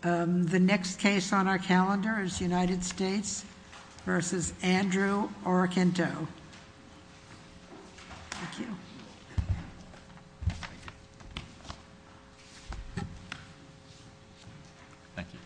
The next case on our calendar is United States v. Andrew Orokinto. Thank you. Thank you.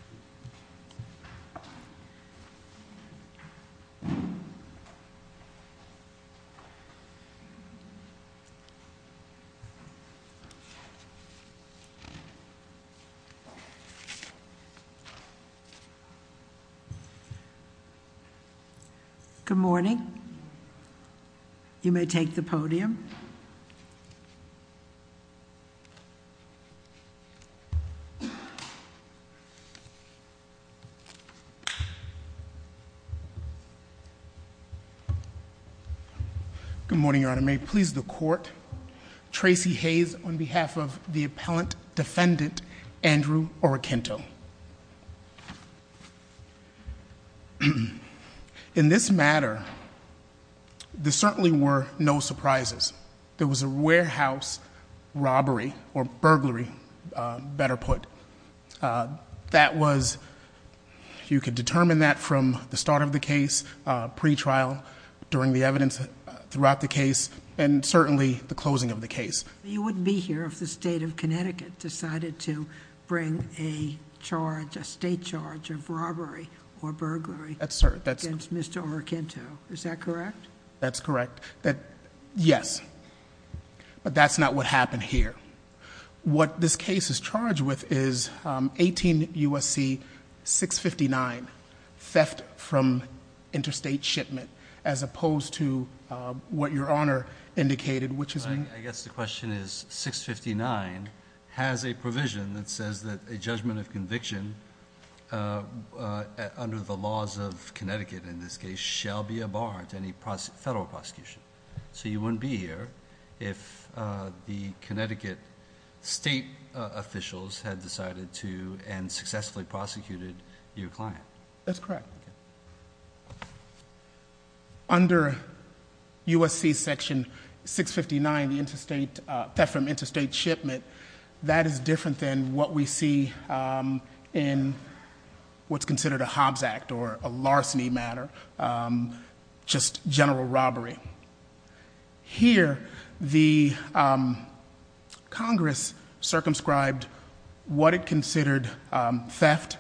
Good morning. You may take the podium. Good morning, Your Honor. May it please the Court, Tracey Hayes on behalf of the Appellant Defendant, Andrew Orokinto. In this matter, there certainly were no surprises. There was a warehouse robbery, or burglary, better put. That was, you could determine that from the start of the case, pre-trial, during the evidence throughout the case, and certainly the closing of the case. You wouldn't be here if the state of Connecticut decided to bring a charge, a state charge, of robbery or burglary against Mr. Orokinto. Is that correct? That's correct. Yes. But that's not what happened here. What this case is charged with is 18 U.S.C. 659, theft from interstate shipment, as opposed to what Your Honor indicated, which is... I guess the question is, 659 has a provision that says that a judgment of conviction, under the laws of Connecticut in this case, shall be a bar to any federal prosecution. So you wouldn't be here if the Connecticut state officials had decided to, and successfully prosecuted, your client. That's correct. Under U.S.C. section 659, the theft from interstate shipment, that is different than what we see in what's considered a Hobbs Act, or a larceny matter, just general robbery. Here, the Congress circumscribed what it considered theft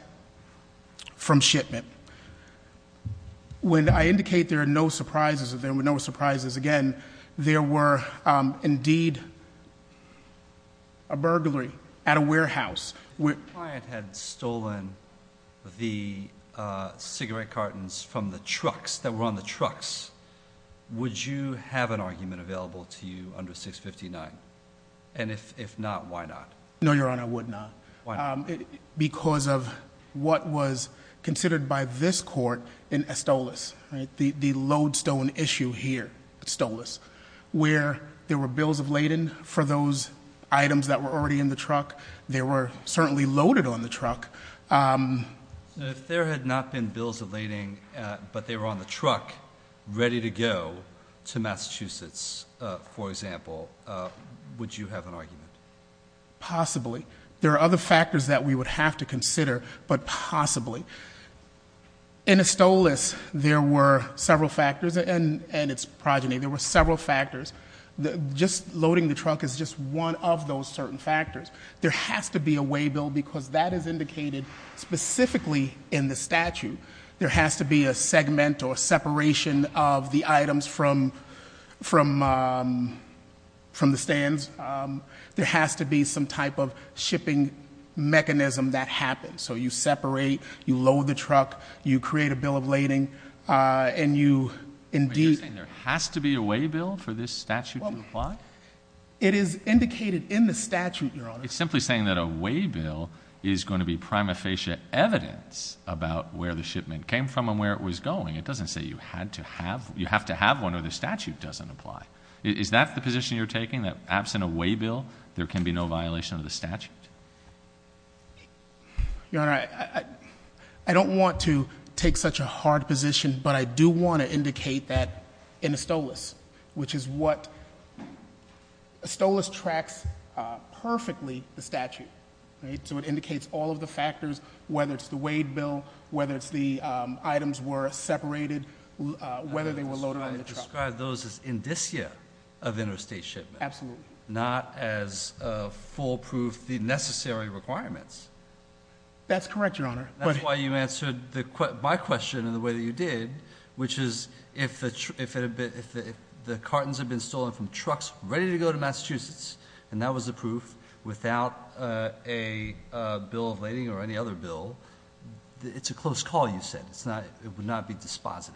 from shipment. When I indicate there are no surprises, there were no surprises again, there were indeed a burglary at a warehouse. The client had stolen the cigarette cartons from the trucks, that were on the trucks. Would you have an argument available to you under 659? And if not, why not? No, Your Honor, I would not. Why not? Because of what was considered by this court in Estolos, the lodestone issue here at Estolos, where there were bills of lading for those items that were already in the truck. They were certainly loaded on the truck. If there had not been bills of lading, but they were on the truck, ready to go to Massachusetts, for example, would you have an argument? Possibly. There are other factors that we would have to consider, but possibly. In Estolos, there were several factors, and it's progeny. There were several factors. Just loading the trunk is just one of those certain factors. There has to be a waybill, because that is indicated specifically in the statute. There has to be a segment or separation of the items from the stands. There has to be some type of shipping mechanism that happens. So you separate, you load the truck, you create a bill of lading, and you indeed— But you're saying there has to be a waybill for this statute to apply? It is indicated in the statute, Your Honor. It's simply saying that a waybill is going to be prima facie evidence about where the shipment came from and where it was going. It doesn't say you have to have one or the statute doesn't apply. Is that the position you're taking, that absent a waybill, there can be no violation of the statute? Your Honor, I don't want to take such a hard position, but I do want to indicate that in ASTOLAS, which is what— ASTOLAS tracks perfectly the statute. So it indicates all of the factors, whether it's the waybill, whether it's the items were separated, whether they were loaded on the truck. I describe those as indicia of interstate shipment. Absolutely. Not as foolproof, the necessary requirements. That's correct, Your Honor. That's why you answered my question in the way that you did, which is if the cartons had been stolen from trucks ready to go to Massachusetts, and that was the proof, without a bill of lading or any other bill, it's a close call, you said. It would not be dispositive.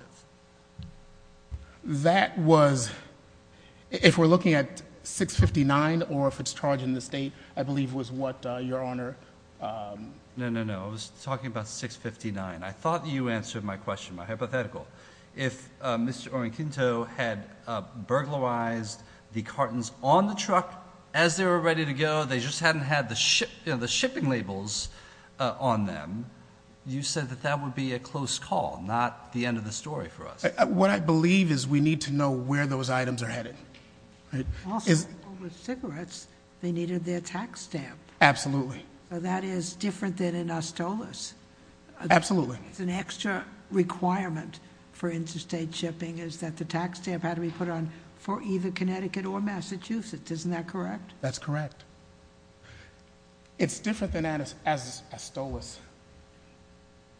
That was—if we're looking at 659 or if it's charging the state, I believe was what Your Honor— No, no, no. I was talking about 659. I thought you answered my question, my hypothetical. If Mr. Orenquinto had burglarized the cartons on the truck as they were ready to go, they just hadn't had the shipping labels on them, you said that that would be a close call, not the end of the story for us. What I believe is we need to know where those items are headed. Also, with cigarettes, they needed their tax stamp. Absolutely. That is different than in Astolos. Absolutely. It's an extra requirement for interstate shipping is that the tax stamp had to be put on for either Connecticut or Massachusetts. Isn't that correct? That's correct. It's different than Astolos,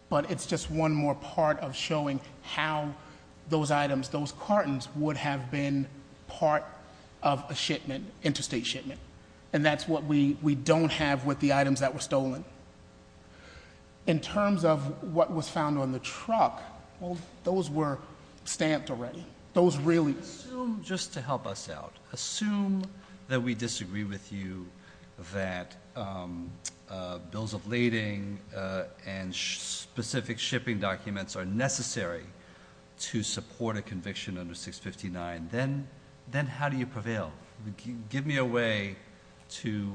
but it's just one more part of showing how those items, those cartons would have been part of a shipment, interstate shipment. That's what we don't have with the items that were stolen. In terms of what was found on the truck, those were stamped already. Those really— Just to help us out, assume that we disagree with you that bills of lading and specific shipping documents are necessary to support a conviction under 659. Then how do you prevail? Give me a way to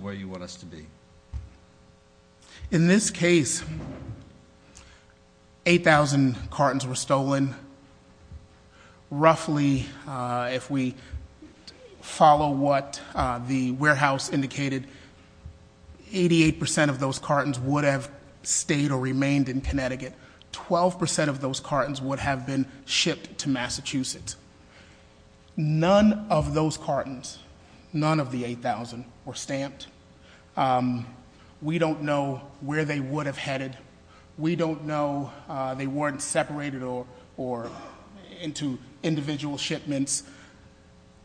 where you want us to be. In this case, 8,000 cartons were stolen. Roughly, if we follow what the warehouse indicated, 88% of those cartons would have stayed or remained in Connecticut. 12% of those cartons would have been shipped to Massachusetts. None of those cartons, none of the 8,000, were stamped. We don't know where they would have headed. We don't know they weren't separated or into individual shipments.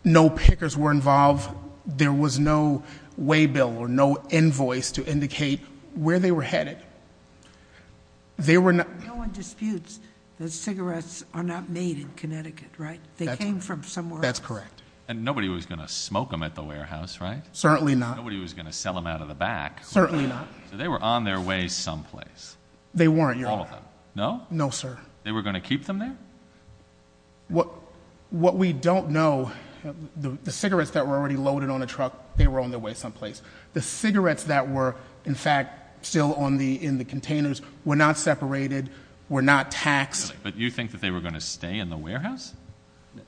No pickers were involved. There was no waybill or no invoice to indicate where they were headed. No one disputes that cigarettes are not made in Connecticut, right? They came from somewhere else. That's correct. Nobody was going to smoke them at the warehouse, right? Certainly not. Nobody was going to sell them out of the back. They were on their way someplace. They weren't, Your Honor. All of them. No? No, sir. They were going to keep them there? What we don't know, the cigarettes that were already loaded on the truck, they were on their way someplace. The cigarettes that were, in fact, still in the containers were not separated, were not taxed. But you think that they were going to stay in the warehouse?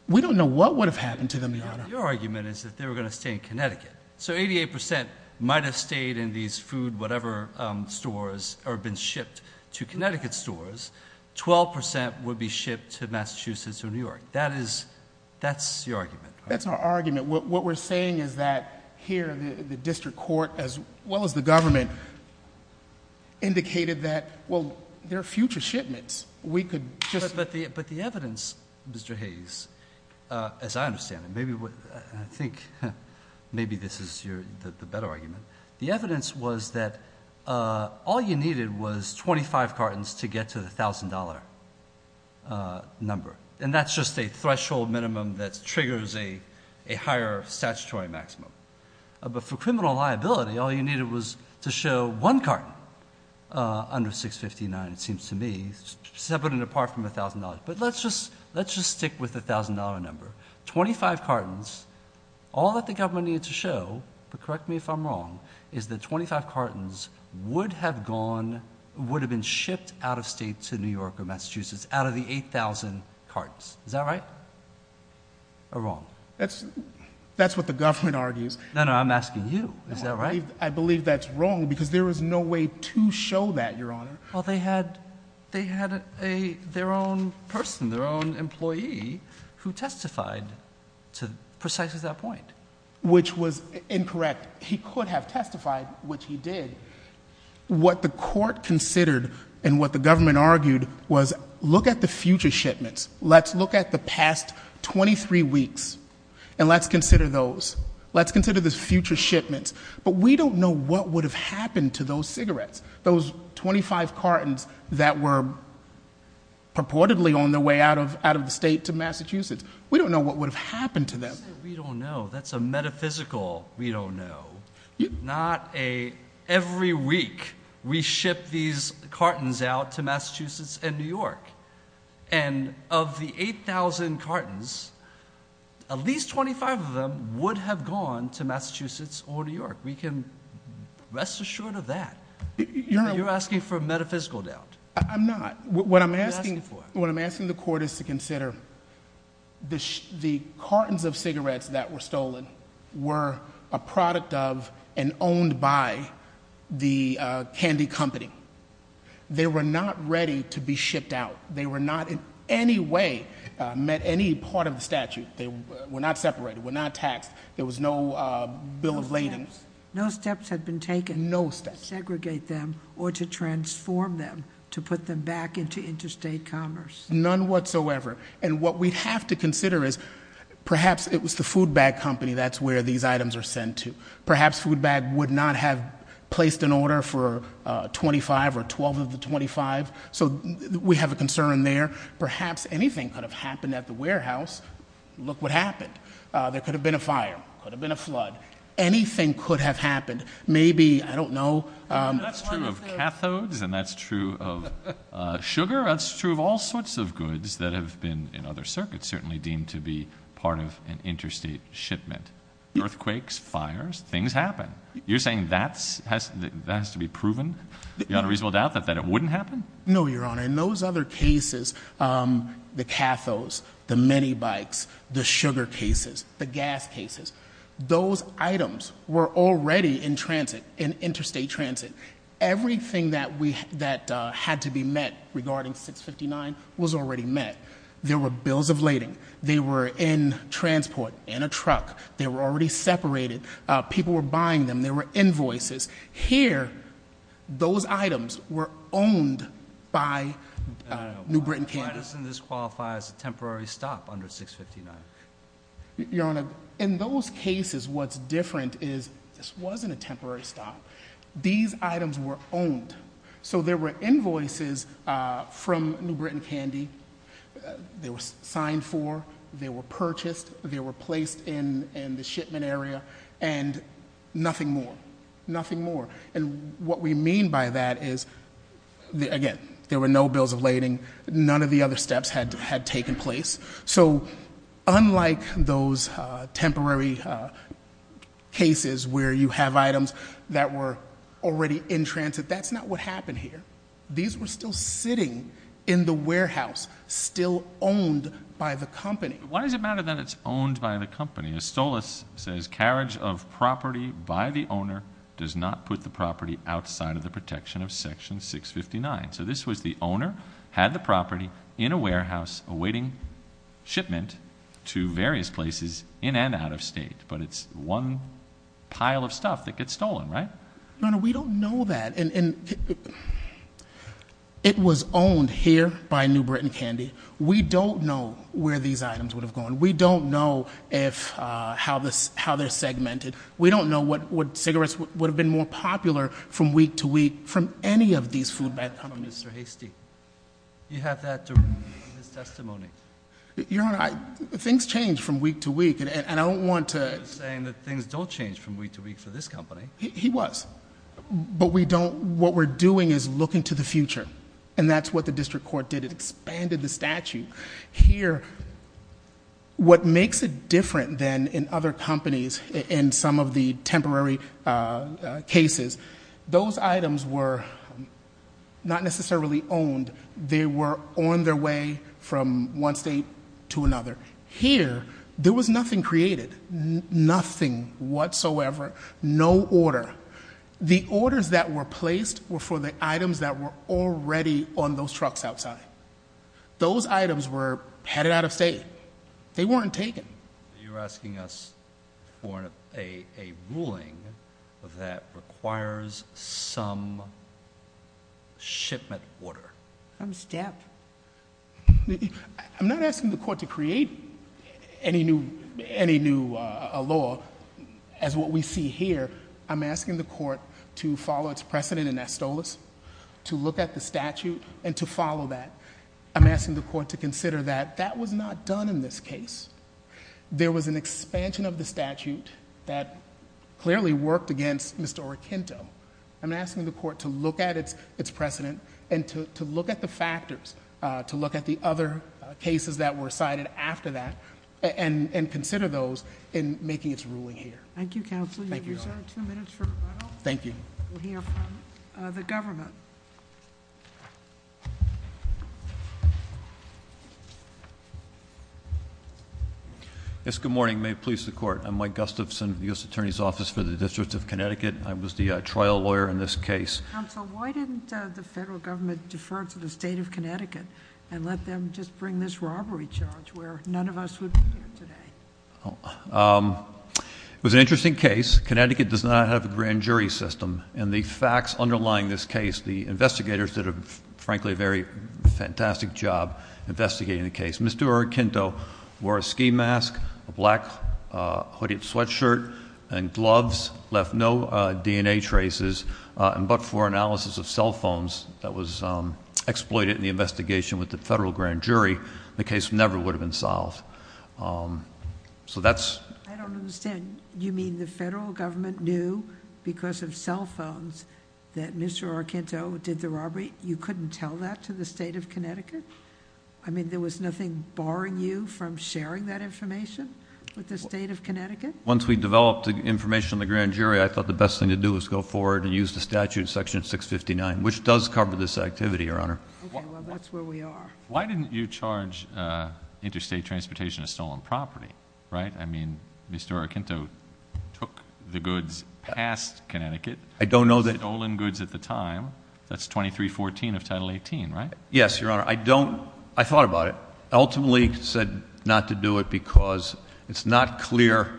We don't know what would have happened to them, Your Honor. Your argument is that they were going to stay in Connecticut. So 88% might have stayed in these food whatever stores or been shipped to Connecticut stores. 12% would be shipped to Massachusetts or New York. That's your argument, right? That's our argument. What we're saying is that here the district court, as well as the government, indicated that there are future shipments. We could just... But the evidence, Mr. Hayes, as I understand it, maybe this is the better argument, the evidence was that all you needed was 25 cartons to get to the $1,000 number. And that's just a threshold minimum that triggers a higher statutory maximum. But for criminal liability, all you needed was to show one carton under 659, it seems to me, separate and apart from $1,000. But let's just stick with the $1,000 number. Twenty-five cartons, all that the government needed to show, but correct me if I'm wrong, is that 25 cartons would have gone, would have been shipped out of state to New York or Massachusetts out of the 8,000 cartons. Is that right or wrong? That's what the government argues. No, no, I'm asking you. Is that right? I believe that's wrong because there was no way to show that, Your Honor. Well, they had their own person, their own employee, who testified to precisely that point. Which was incorrect. He could have testified, which he did. What the court considered and what the government argued was, look at the future shipments. Let's look at the past 23 weeks and let's consider those. Let's consider the future shipments. But we don't know what would have happened to those cigarettes, those 25 cartons that were purportedly on their way out of the state to Massachusetts. We don't know what would have happened to them. We don't know. That's a metaphysical we don't know. Not every week we ship these cartons out to Massachusetts and New York. And of the 8,000 cartons, at least 25 of them would have gone to Massachusetts or New York. We can rest assured of that. You're asking for a metaphysical doubt. I'm not. What I'm asking the court is to consider the cartons of cigarettes that were stolen were a product of and owned by the candy company. They were not ready to be shipped out. They were not in any way met any part of the statute. They were not separated. They were not taxed. There was no bill of lading. No steps had been taken. No steps. To segregate them or to transform them, to put them back into interstate commerce. None whatsoever. And what we have to consider is perhaps it was the food bag company that's where these items are sent to. Perhaps food bag would not have placed an order for 25 or 12 of the 25. So we have a concern there. Perhaps anything could have happened at the warehouse. Look what happened. There could have been a fire. Could have been a flood. Anything could have happened. Maybe, I don't know. That's true of cathodes and that's true of sugar. That's true of all sorts of goods that have been in other circuits, certainly deemed to be part of an interstate shipment. Earthquakes, fires, things happen. You're saying that has to be proven beyond a reasonable doubt that it wouldn't happen? No, Your Honor. In those other cases, the cathodes, the minibikes, the sugar cases, the gas cases, those items were already in transit, in interstate transit. Everything that had to be met regarding 659 was already met. There were bills of lading. They were in transport, in a truck. They were already separated. People were buying them. There were invoices. Here, those items were owned by New Britain Canada. Why doesn't this qualify as a temporary stop under 659? Your Honor, in those cases, what's different is this wasn't a temporary stop. These items were owned. So there were invoices from New Britain Candy. They were signed for. They were purchased. They were placed in the shipment area and nothing more. Nothing more. And what we mean by that is, again, there were no bills of lading. None of the other steps had taken place. So unlike those temporary cases where you have items that were already in transit, that's not what happened here. These were still sitting in the warehouse, still owned by the company. Why does it matter that it's owned by the company? Estolos says carriage of property by the owner does not put the property outside of the protection of Section 659. So this was the owner, had the property in a warehouse awaiting shipment to various places in and out of state. But it's one pile of stuff that gets stolen, right? Your Honor, we don't know that. And it was owned here by New Britain Candy. We don't know where these items would have gone. We don't know how they're segmented. We don't know what cigarettes would have been more popular from week to week from any of these food bank companies. Mr. Hastie, you have that in his testimony. Your Honor, things change from week to week. And I don't want to- He's saying that things don't change from week to week for this company. He was. But we don't, what we're doing is looking to the future. And that's what the district court did. It expanded the statute. Here, what makes it different than in other companies in some of the temporary cases, those items were not necessarily owned. They were on their way from one state to another. Here, there was nothing created. Nothing whatsoever. No order. The orders that were placed were for the items that were already on those trucks outside. Those items were headed out of state. They weren't taken. You're asking us for a ruling that requires some shipment order. I'm stabbed. I'm not asking the court to create any new law as what we see here. I'm asking the court to follow its precedent in Estolos, to look at the statute, and to follow that. I'm asking the court to consider that that was not done in this case. There was an expansion of the statute that clearly worked against Mr. Oroquinto. I'm asking the court to look at its precedent and to look at the factors, to look at the other cases that were cited after that, and consider those in making its ruling here. Thank you, counsel. Thank you, Your Honor. We'll reserve two minutes for rebuttal. Thank you. We'll hear from the government. Yes, good morning. May it please the court. I'm Mike Gustafson, U.S. Attorney's Office for the District of Connecticut. I was the trial lawyer in this case. Counsel, why didn't the federal government defer to the state of Connecticut and let them just bring this robbery charge where none of us would be here today? It was an interesting case. Connecticut does not have a grand jury system, and the facts underlying this case, the investigators did, frankly, a very fantastic job investigating the case. Mr. Oroquinto wore a ski mask, a black hooded sweatshirt, and gloves, left no DNA traces, but for analysis of cell phones that was exploited in the investigation with the federal grand jury, the case never would have been solved. So that's... I don't understand. You mean the federal government knew because of cell phones that Mr. Oroquinto did the robbery? You couldn't tell that to the state of Connecticut? I mean, there was nothing barring you from sharing that information with the state of Connecticut? Once we developed the information in the grand jury, I thought the best thing to do was go forward and use the statute section 659, which does cover this activity, Your Honor. Okay, well, that's where we are. Why didn't you charge Interstate Transportation a stolen property, right? I mean, Mr. Oroquinto took the goods past Connecticut. I don't know that... Stolen goods at the time. That's 2314 of Title 18, right? Yes, Your Honor. I don't... I thought about it. I ultimately said not to do it because it's not clear.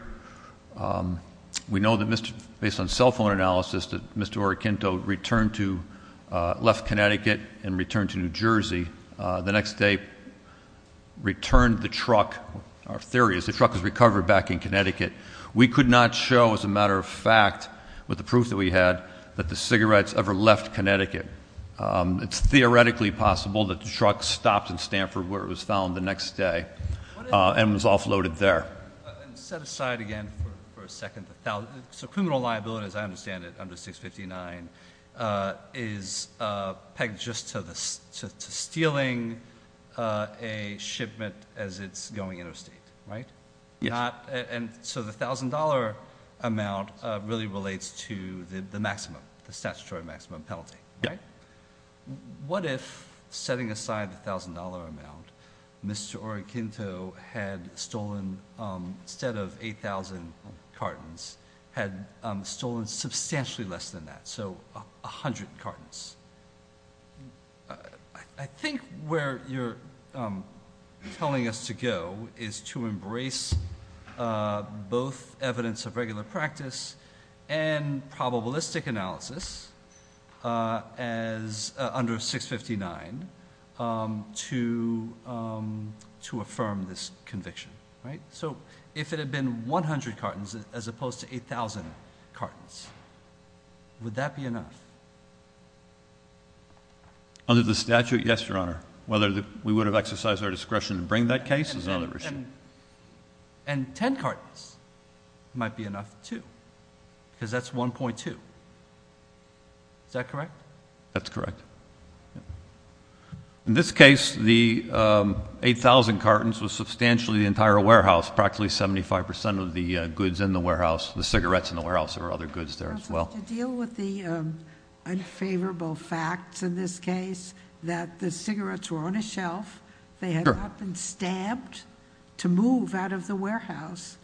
We know that based on cell phone analysis that Mr. Oroquinto left Connecticut and returned to New Jersey. The next day returned the truck. Our theory is the truck was recovered back in Connecticut. We could not show, as a matter of fact, with the proof that we had, that the cigarettes ever left Connecticut. It's theoretically possible that the truck stopped in Stanford where it was found the next day and was offloaded there. And set aside again for a second, so criminal liability, as I understand it, under 659, is pegged just to stealing a shipment as it's going interstate, right? Yes. And so the $1,000 amount really relates to the maximum, the statutory maximum penalty, right? Yes. If, setting aside the $1,000 amount, Mr. Oroquinto had stolen, instead of 8,000 cartons, had stolen substantially less than that, so 100 cartons. I think where you're telling us to go is to embrace both evidence of regular practice and probabilistic analysis as under 659 to affirm this conviction, right? So if it had been 100 cartons as opposed to 8,000 cartons, would that be enough? Under the statute, yes, Your Honor. Whether we would have exercised our discretion to bring that case is another issue. And 10 cartons might be enough, too, because that's 1.2. Is that correct? That's correct. In this case, the 8,000 cartons was substantially the entire warehouse, practically 75% of the goods in the warehouse, the cigarettes in the warehouse. There were other goods there as well. To deal with the unfavorable facts in this case, that the cigarettes were on a shelf, they had not been stabbed to move out of the warehouse,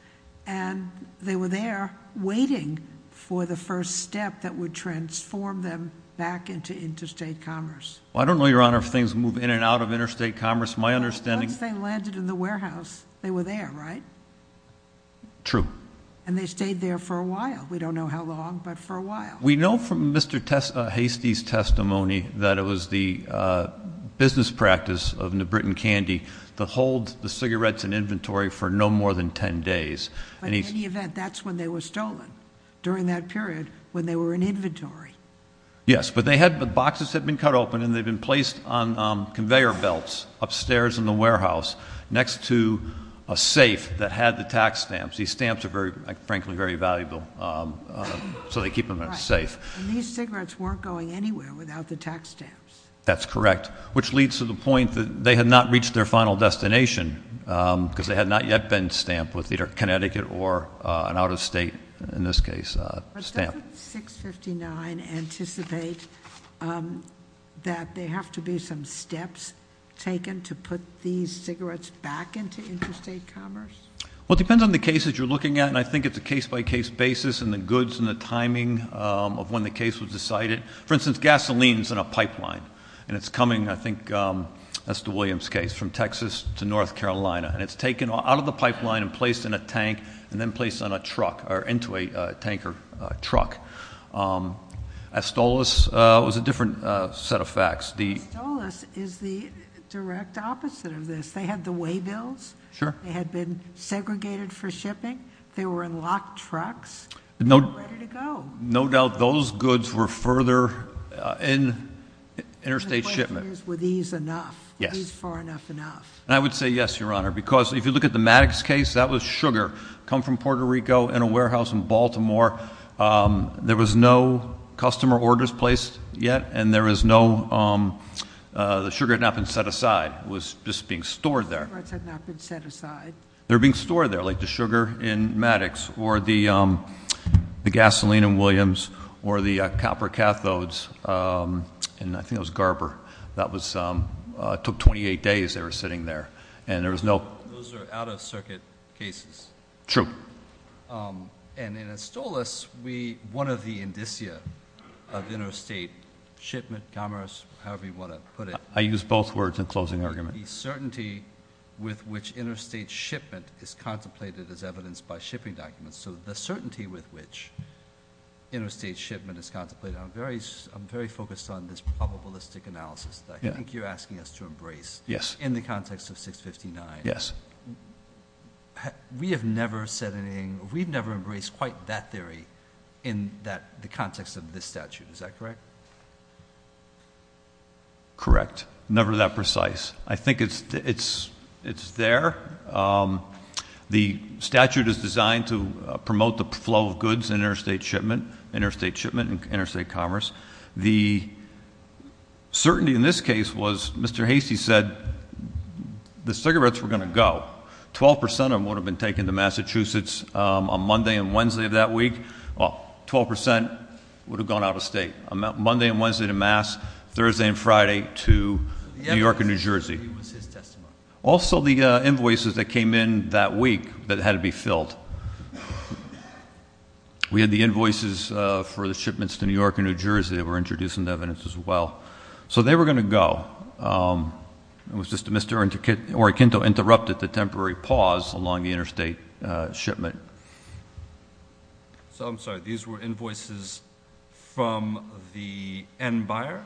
and they were there waiting for the first step that would transform them back into interstate commerce. Well, I don't know, Your Honor, if things move in and out of interstate commerce. My understanding is... Once they landed in the warehouse, they were there, right? True. And they stayed there for a while. We don't know how long, but for a while. We know from Mr. Hastie's testimony that it was the business practice of New Britain Candy to hold the cigarettes in inventory for no more than 10 days. But in any event, that's when they were stolen, during that period, when they were in inventory. Yes, but boxes had been cut open, and they'd been placed on conveyor belts upstairs in the warehouse, next to a safe that had the tax stamps. These stamps are, frankly, very valuable, so they keep them in a safe. And these cigarettes weren't going anywhere without the tax stamps. That's correct. Which leads to the point that they had not reached their final destination, because they had not yet been stamped with either Connecticut or an out-of-state, in this case, stamp. But doesn't 659 anticipate that there have to be some steps taken to put these cigarettes back into interstate commerce? Well, it depends on the cases you're looking at, and I think it's a case-by-case basis in the goods and the timing of when the case was decided. For instance, gasoline's in a pipeline, and it's coming, I think, that's the Williams case, from Texas to North Carolina. And it's taken out of the pipeline and placed in a tank, and then placed on a truck, or into a tanker truck. Astolos was a different set of facts. Astolos is the direct opposite of this. They had the weigh bills. Sure. They had been segregated for shipping. They were in locked trucks. They were ready to go. No doubt those goods were further in interstate shipment. The question is, were these enough? Yes. Were these far enough enough? I would say yes, Your Honor, because if you look at the Maddox case, that was sugar. Come from Puerto Rico in a warehouse in Baltimore. There was no customer orders placed yet, and there was no, the sugar had not been set aside. It was just being stored there. The cigarettes had not been set aside. They were being stored there, like the sugar in Maddox, or the gasoline in Williams, or the copper cathodes, and I think it was Garber. That was, took 28 days they were sitting there, and there was no- Those are out of circuit cases. True. And in Astolos, we, one of the indicia of interstate shipment, commerce, however you want to put it- I use both words in closing argument. The certainty with which interstate shipment is contemplated is evidenced by shipping documents. So the certainty with which interstate shipment is contemplated, I'm very focused on this probabilistic analysis that I think you're asking us to embrace. Yes. In the context of 659. Yes. We have never said anything, we've never embraced quite that theory in the context of this statute. Is that correct? Correct. Never that precise. I think it's there. The statute is designed to promote the flow of goods in interstate shipment, interstate shipment and interstate commerce. The certainty in this case was, Mr. Hasty said the cigarettes were going to go. 12% of them would have been taken to Massachusetts on Monday and Wednesday of that week. Well, 12% would have gone out of state. Monday and Wednesday to Mass, Thursday and Friday to New York and New Jersey. Also the invoices that came in that week that had to be filled. We had the invoices for the shipments to New York and New Jersey that were introduced into evidence as well. So they were going to go. It was just Mr. Oriquinto interrupted the temporary pause along the interstate shipment. So I'm sorry, these were invoices from the end buyer?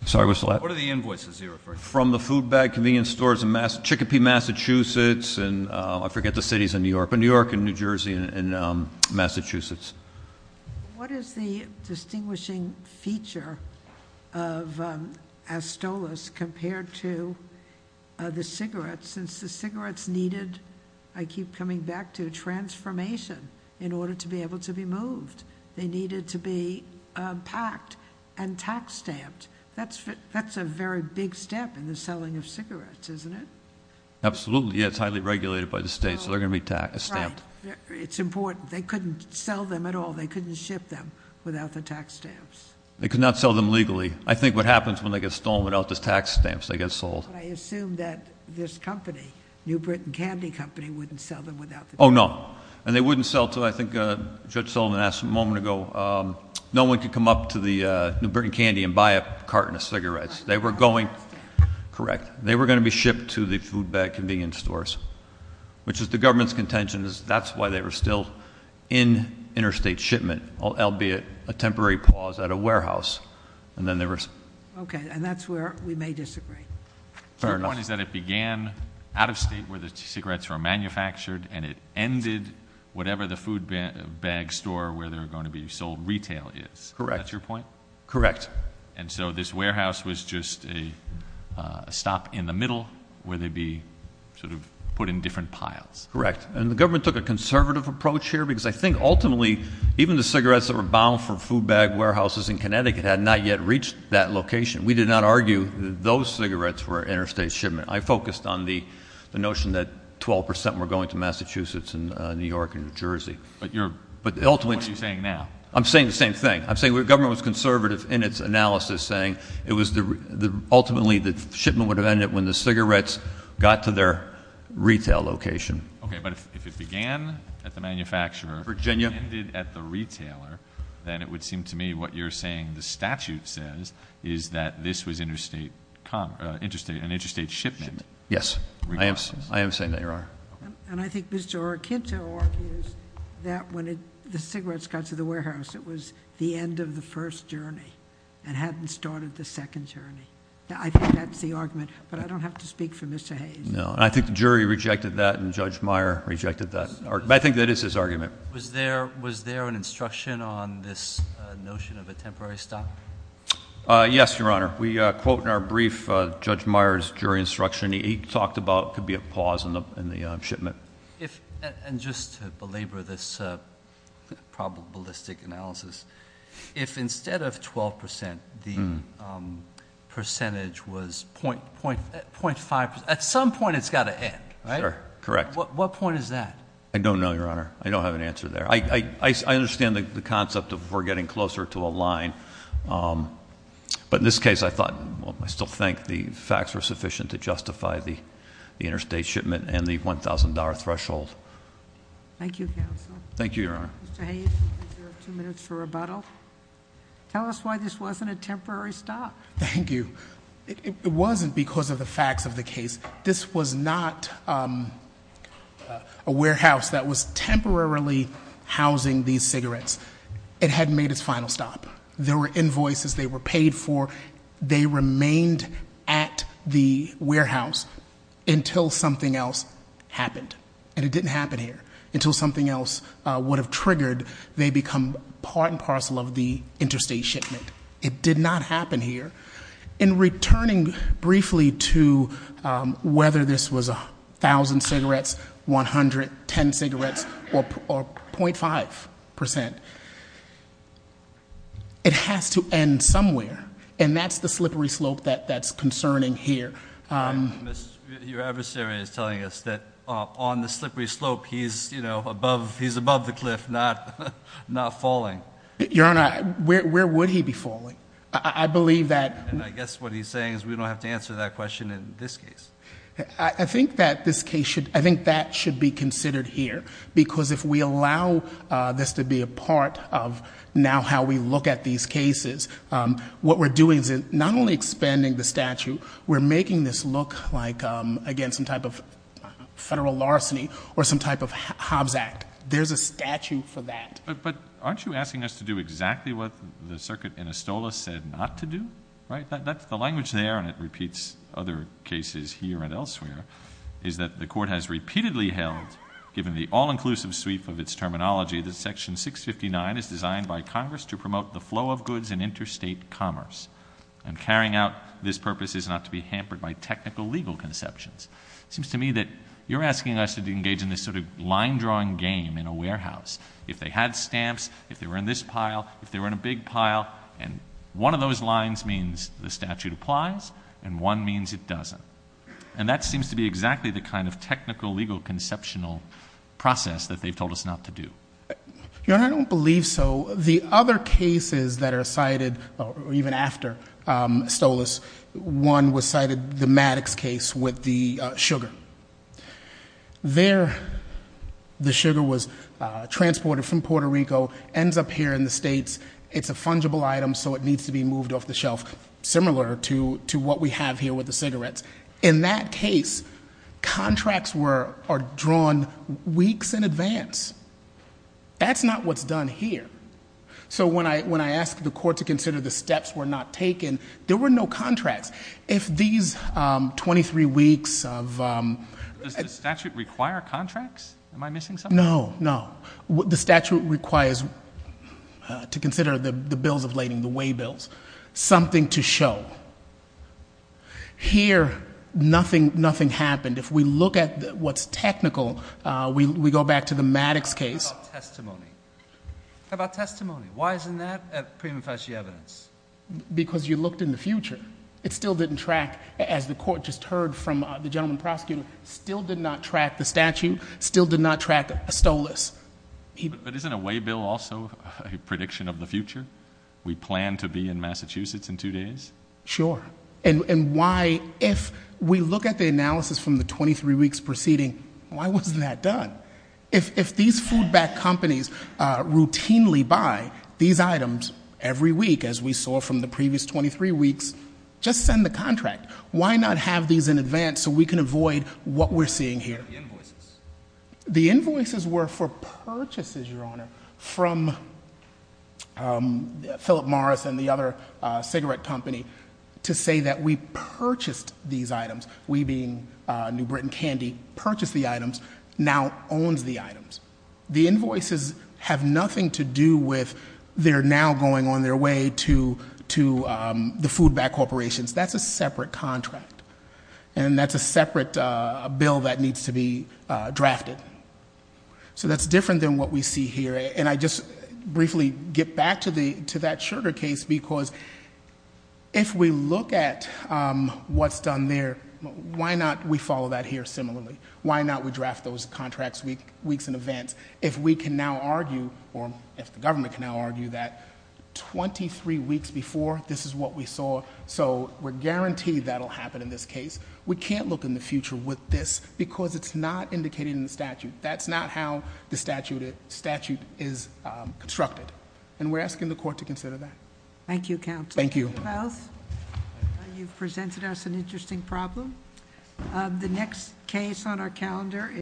I'm sorry, what's that? What are the invoices you're referring to? From the food bag convenience stores in Chickapee, Massachusetts, and I forget the cities in New York, but New York and New Jersey and Massachusetts. What is the distinguishing feature of Astolos compared to the cigarettes? Since the cigarettes needed, I keep coming back to, transformation in order to be able to be moved. They needed to be packed and tax stamped. That's a very big step in the selling of cigarettes, isn't it? Absolutely. It's highly regulated by the state, so they're going to be tax stamped. It's important. They couldn't sell them at all. They couldn't ship them without the tax stamps. They could not sell them legally. I think what happens when they get stolen without the tax stamps, they get sold. But I assume that this company, New Britain Candy Company, wouldn't sell them without the tax stamps. Oh, no. And they wouldn't sell to, I think Judge Sullivan asked a moment ago, no one could come up to the New Britain Candy and buy a carton of cigarettes. They were going. Correct. They were going to be shipped to the food bag convenience stores. Which is the government's contention is that's why they were still in interstate shipment, albeit a temporary pause at a warehouse. And then there was. Okay, and that's where we may disagree. Fair enough. So your point is that it began out of state where the cigarettes were manufactured and it ended whatever the food bag store where they were going to be sold retail is. Correct. That's your point? Correct. And so this warehouse was just a stop in the middle where they'd be sort of put in different piles. Correct. And the government took a conservative approach here because I think ultimately, even the cigarettes that were bound for food bag warehouses in Connecticut had not yet reached that location. We did not argue that those cigarettes were interstate shipment. I focused on the notion that 12 percent were going to Massachusetts and New York and New Jersey. But what are you saying now? I'm saying the same thing. I'm saying the government was conservative in its analysis saying ultimately the shipment would have ended when the cigarettes got to their retail location. Okay, but if it began at the manufacturer and ended at the retailer, then it would seem to me what you're saying the statute says is that this was an interstate shipment. I am saying that, Your Honor. And I think Mr. Arquinto argues that when the cigarettes got to the warehouse, it was the end of the first journey and hadn't started the second journey. I think that's the argument, but I don't have to speak for Mr. Hayes. No, and I think the jury rejected that and Judge Meyer rejected that. I think that is his argument. Was there an instruction on this notion of a temporary stop? Yes, Your Honor. We quote in our brief Judge Meyer's jury instruction. He talked about it could be a pause in the shipment. And just to belabor this probabilistic analysis, if instead of 12 percent the percentage was .5 percent, at some point it's got to end, right? Sure, correct. What point is that? I don't know, Your Honor. I don't have an answer there. I understand the concept of we're getting closer to a line. But in this case, I still think the facts were sufficient to justify the interstate shipment and the $1,000 threshold. Thank you, Counsel. Thank you, Your Honor. Mr. Hayes, you have two minutes for rebuttal. Tell us why this wasn't a temporary stop. Thank you. It wasn't because of the facts of the case. This was not a warehouse that was temporarily housing these cigarettes. It had made its final stop. There were invoices. They were paid for. They remained at the warehouse until something else happened. And it didn't happen here. Until something else would have triggered, they become part and parcel of the interstate shipment. It did not happen here. In returning briefly to whether this was 1,000 cigarettes, 100, 10 cigarettes, or 0.5%, it has to end somewhere. And that's the slippery slope that's concerning here. Your adversary is telling us that on the slippery slope, he's above the cliff, not falling. Your Honor, where would he be falling? I believe that... And I guess what he's saying is we don't have to answer that question in this case. I think that this case should... I think that should be considered here. Because if we allow this to be a part of now how we look at these cases, what we're doing is not only expanding the statute, we're making this look like, again, some type of federal larceny or some type of Hobbs Act. There's a statute for that. But aren't you asking us to do exactly what the circuit in Astola said not to do? The language there, and it repeats other cases here and elsewhere, is that the court has repeatedly held, given the all-inclusive sweep of its terminology, that Section 659 is designed by Congress to promote the flow of goods in interstate commerce. And carrying out this purpose is not to be hampered by technical legal conceptions. It seems to me that you're asking us to engage in this sort of line-drawing game in a warehouse. If they had stamps, if they were in this pile, if they were in a big pile, and one of those lines means the statute applies and one means it doesn't. And that seems to be exactly the kind of technical legal conceptual process that they've told us not to do. Your Honor, I don't believe so. The other cases that are cited, even after Astola's, one was cited, the Maddox case with the sugar. There, the sugar was transported from Puerto Rico, ends up here in the States. It's a fungible item, so it needs to be moved off the shelf, similar to what we have here with the cigarettes. In that case, contracts are drawn weeks in advance. That's not what's done here. So when I asked the court to consider the steps were not taken, there were no contracts. If these 23 weeks of- Does the statute require contracts? Am I missing something? No, no. The statute requires, to consider the bills of lading, the way bills, something to show. Here, nothing happened. If we look at what's technical, we go back to the Maddox case. How about testimony? How about testimony? Why isn't that a prima facie evidence? Because you looked in the future. It still didn't track, as the court just heard from the gentleman prosecutor, still did not track the statute, still did not track Astola's. But isn't a way bill also a prediction of the future? We plan to be in Massachusetts in two days? Sure. And why, if we look at the analysis from the 23 weeks preceding, why wasn't that done? If these food-backed companies routinely buy these items every week, as we saw from the previous 23 weeks, just send the contract. Why not have these in advance so we can avoid what we're seeing here? The invoices. The invoices were for purchases, Your Honor, from Philip Morris and the other cigarette company to say that we purchased these items. We being New Britain Candy purchased the items, now owns the items. The invoices have nothing to do with they're now going on their way to the food-backed corporations. That's a separate contract. And that's a separate bill that needs to be drafted. So that's different than what we see here. And I just briefly get back to that sugar case, because if we look at what's done there, why not we follow that here similarly? Why not we draft those contracts weeks in advance? If we can now argue, or if the government can now argue that 23 weeks before, this is what we saw, so we're guaranteed that'll happen in this case. We can't look in the future with this, because it's not indicated in the statute. And that's not how the statute is constructed. And we're asking the court to consider that. Thank you, counsel. Thank you. You've presented us an interesting problem. The next case on our calendar is-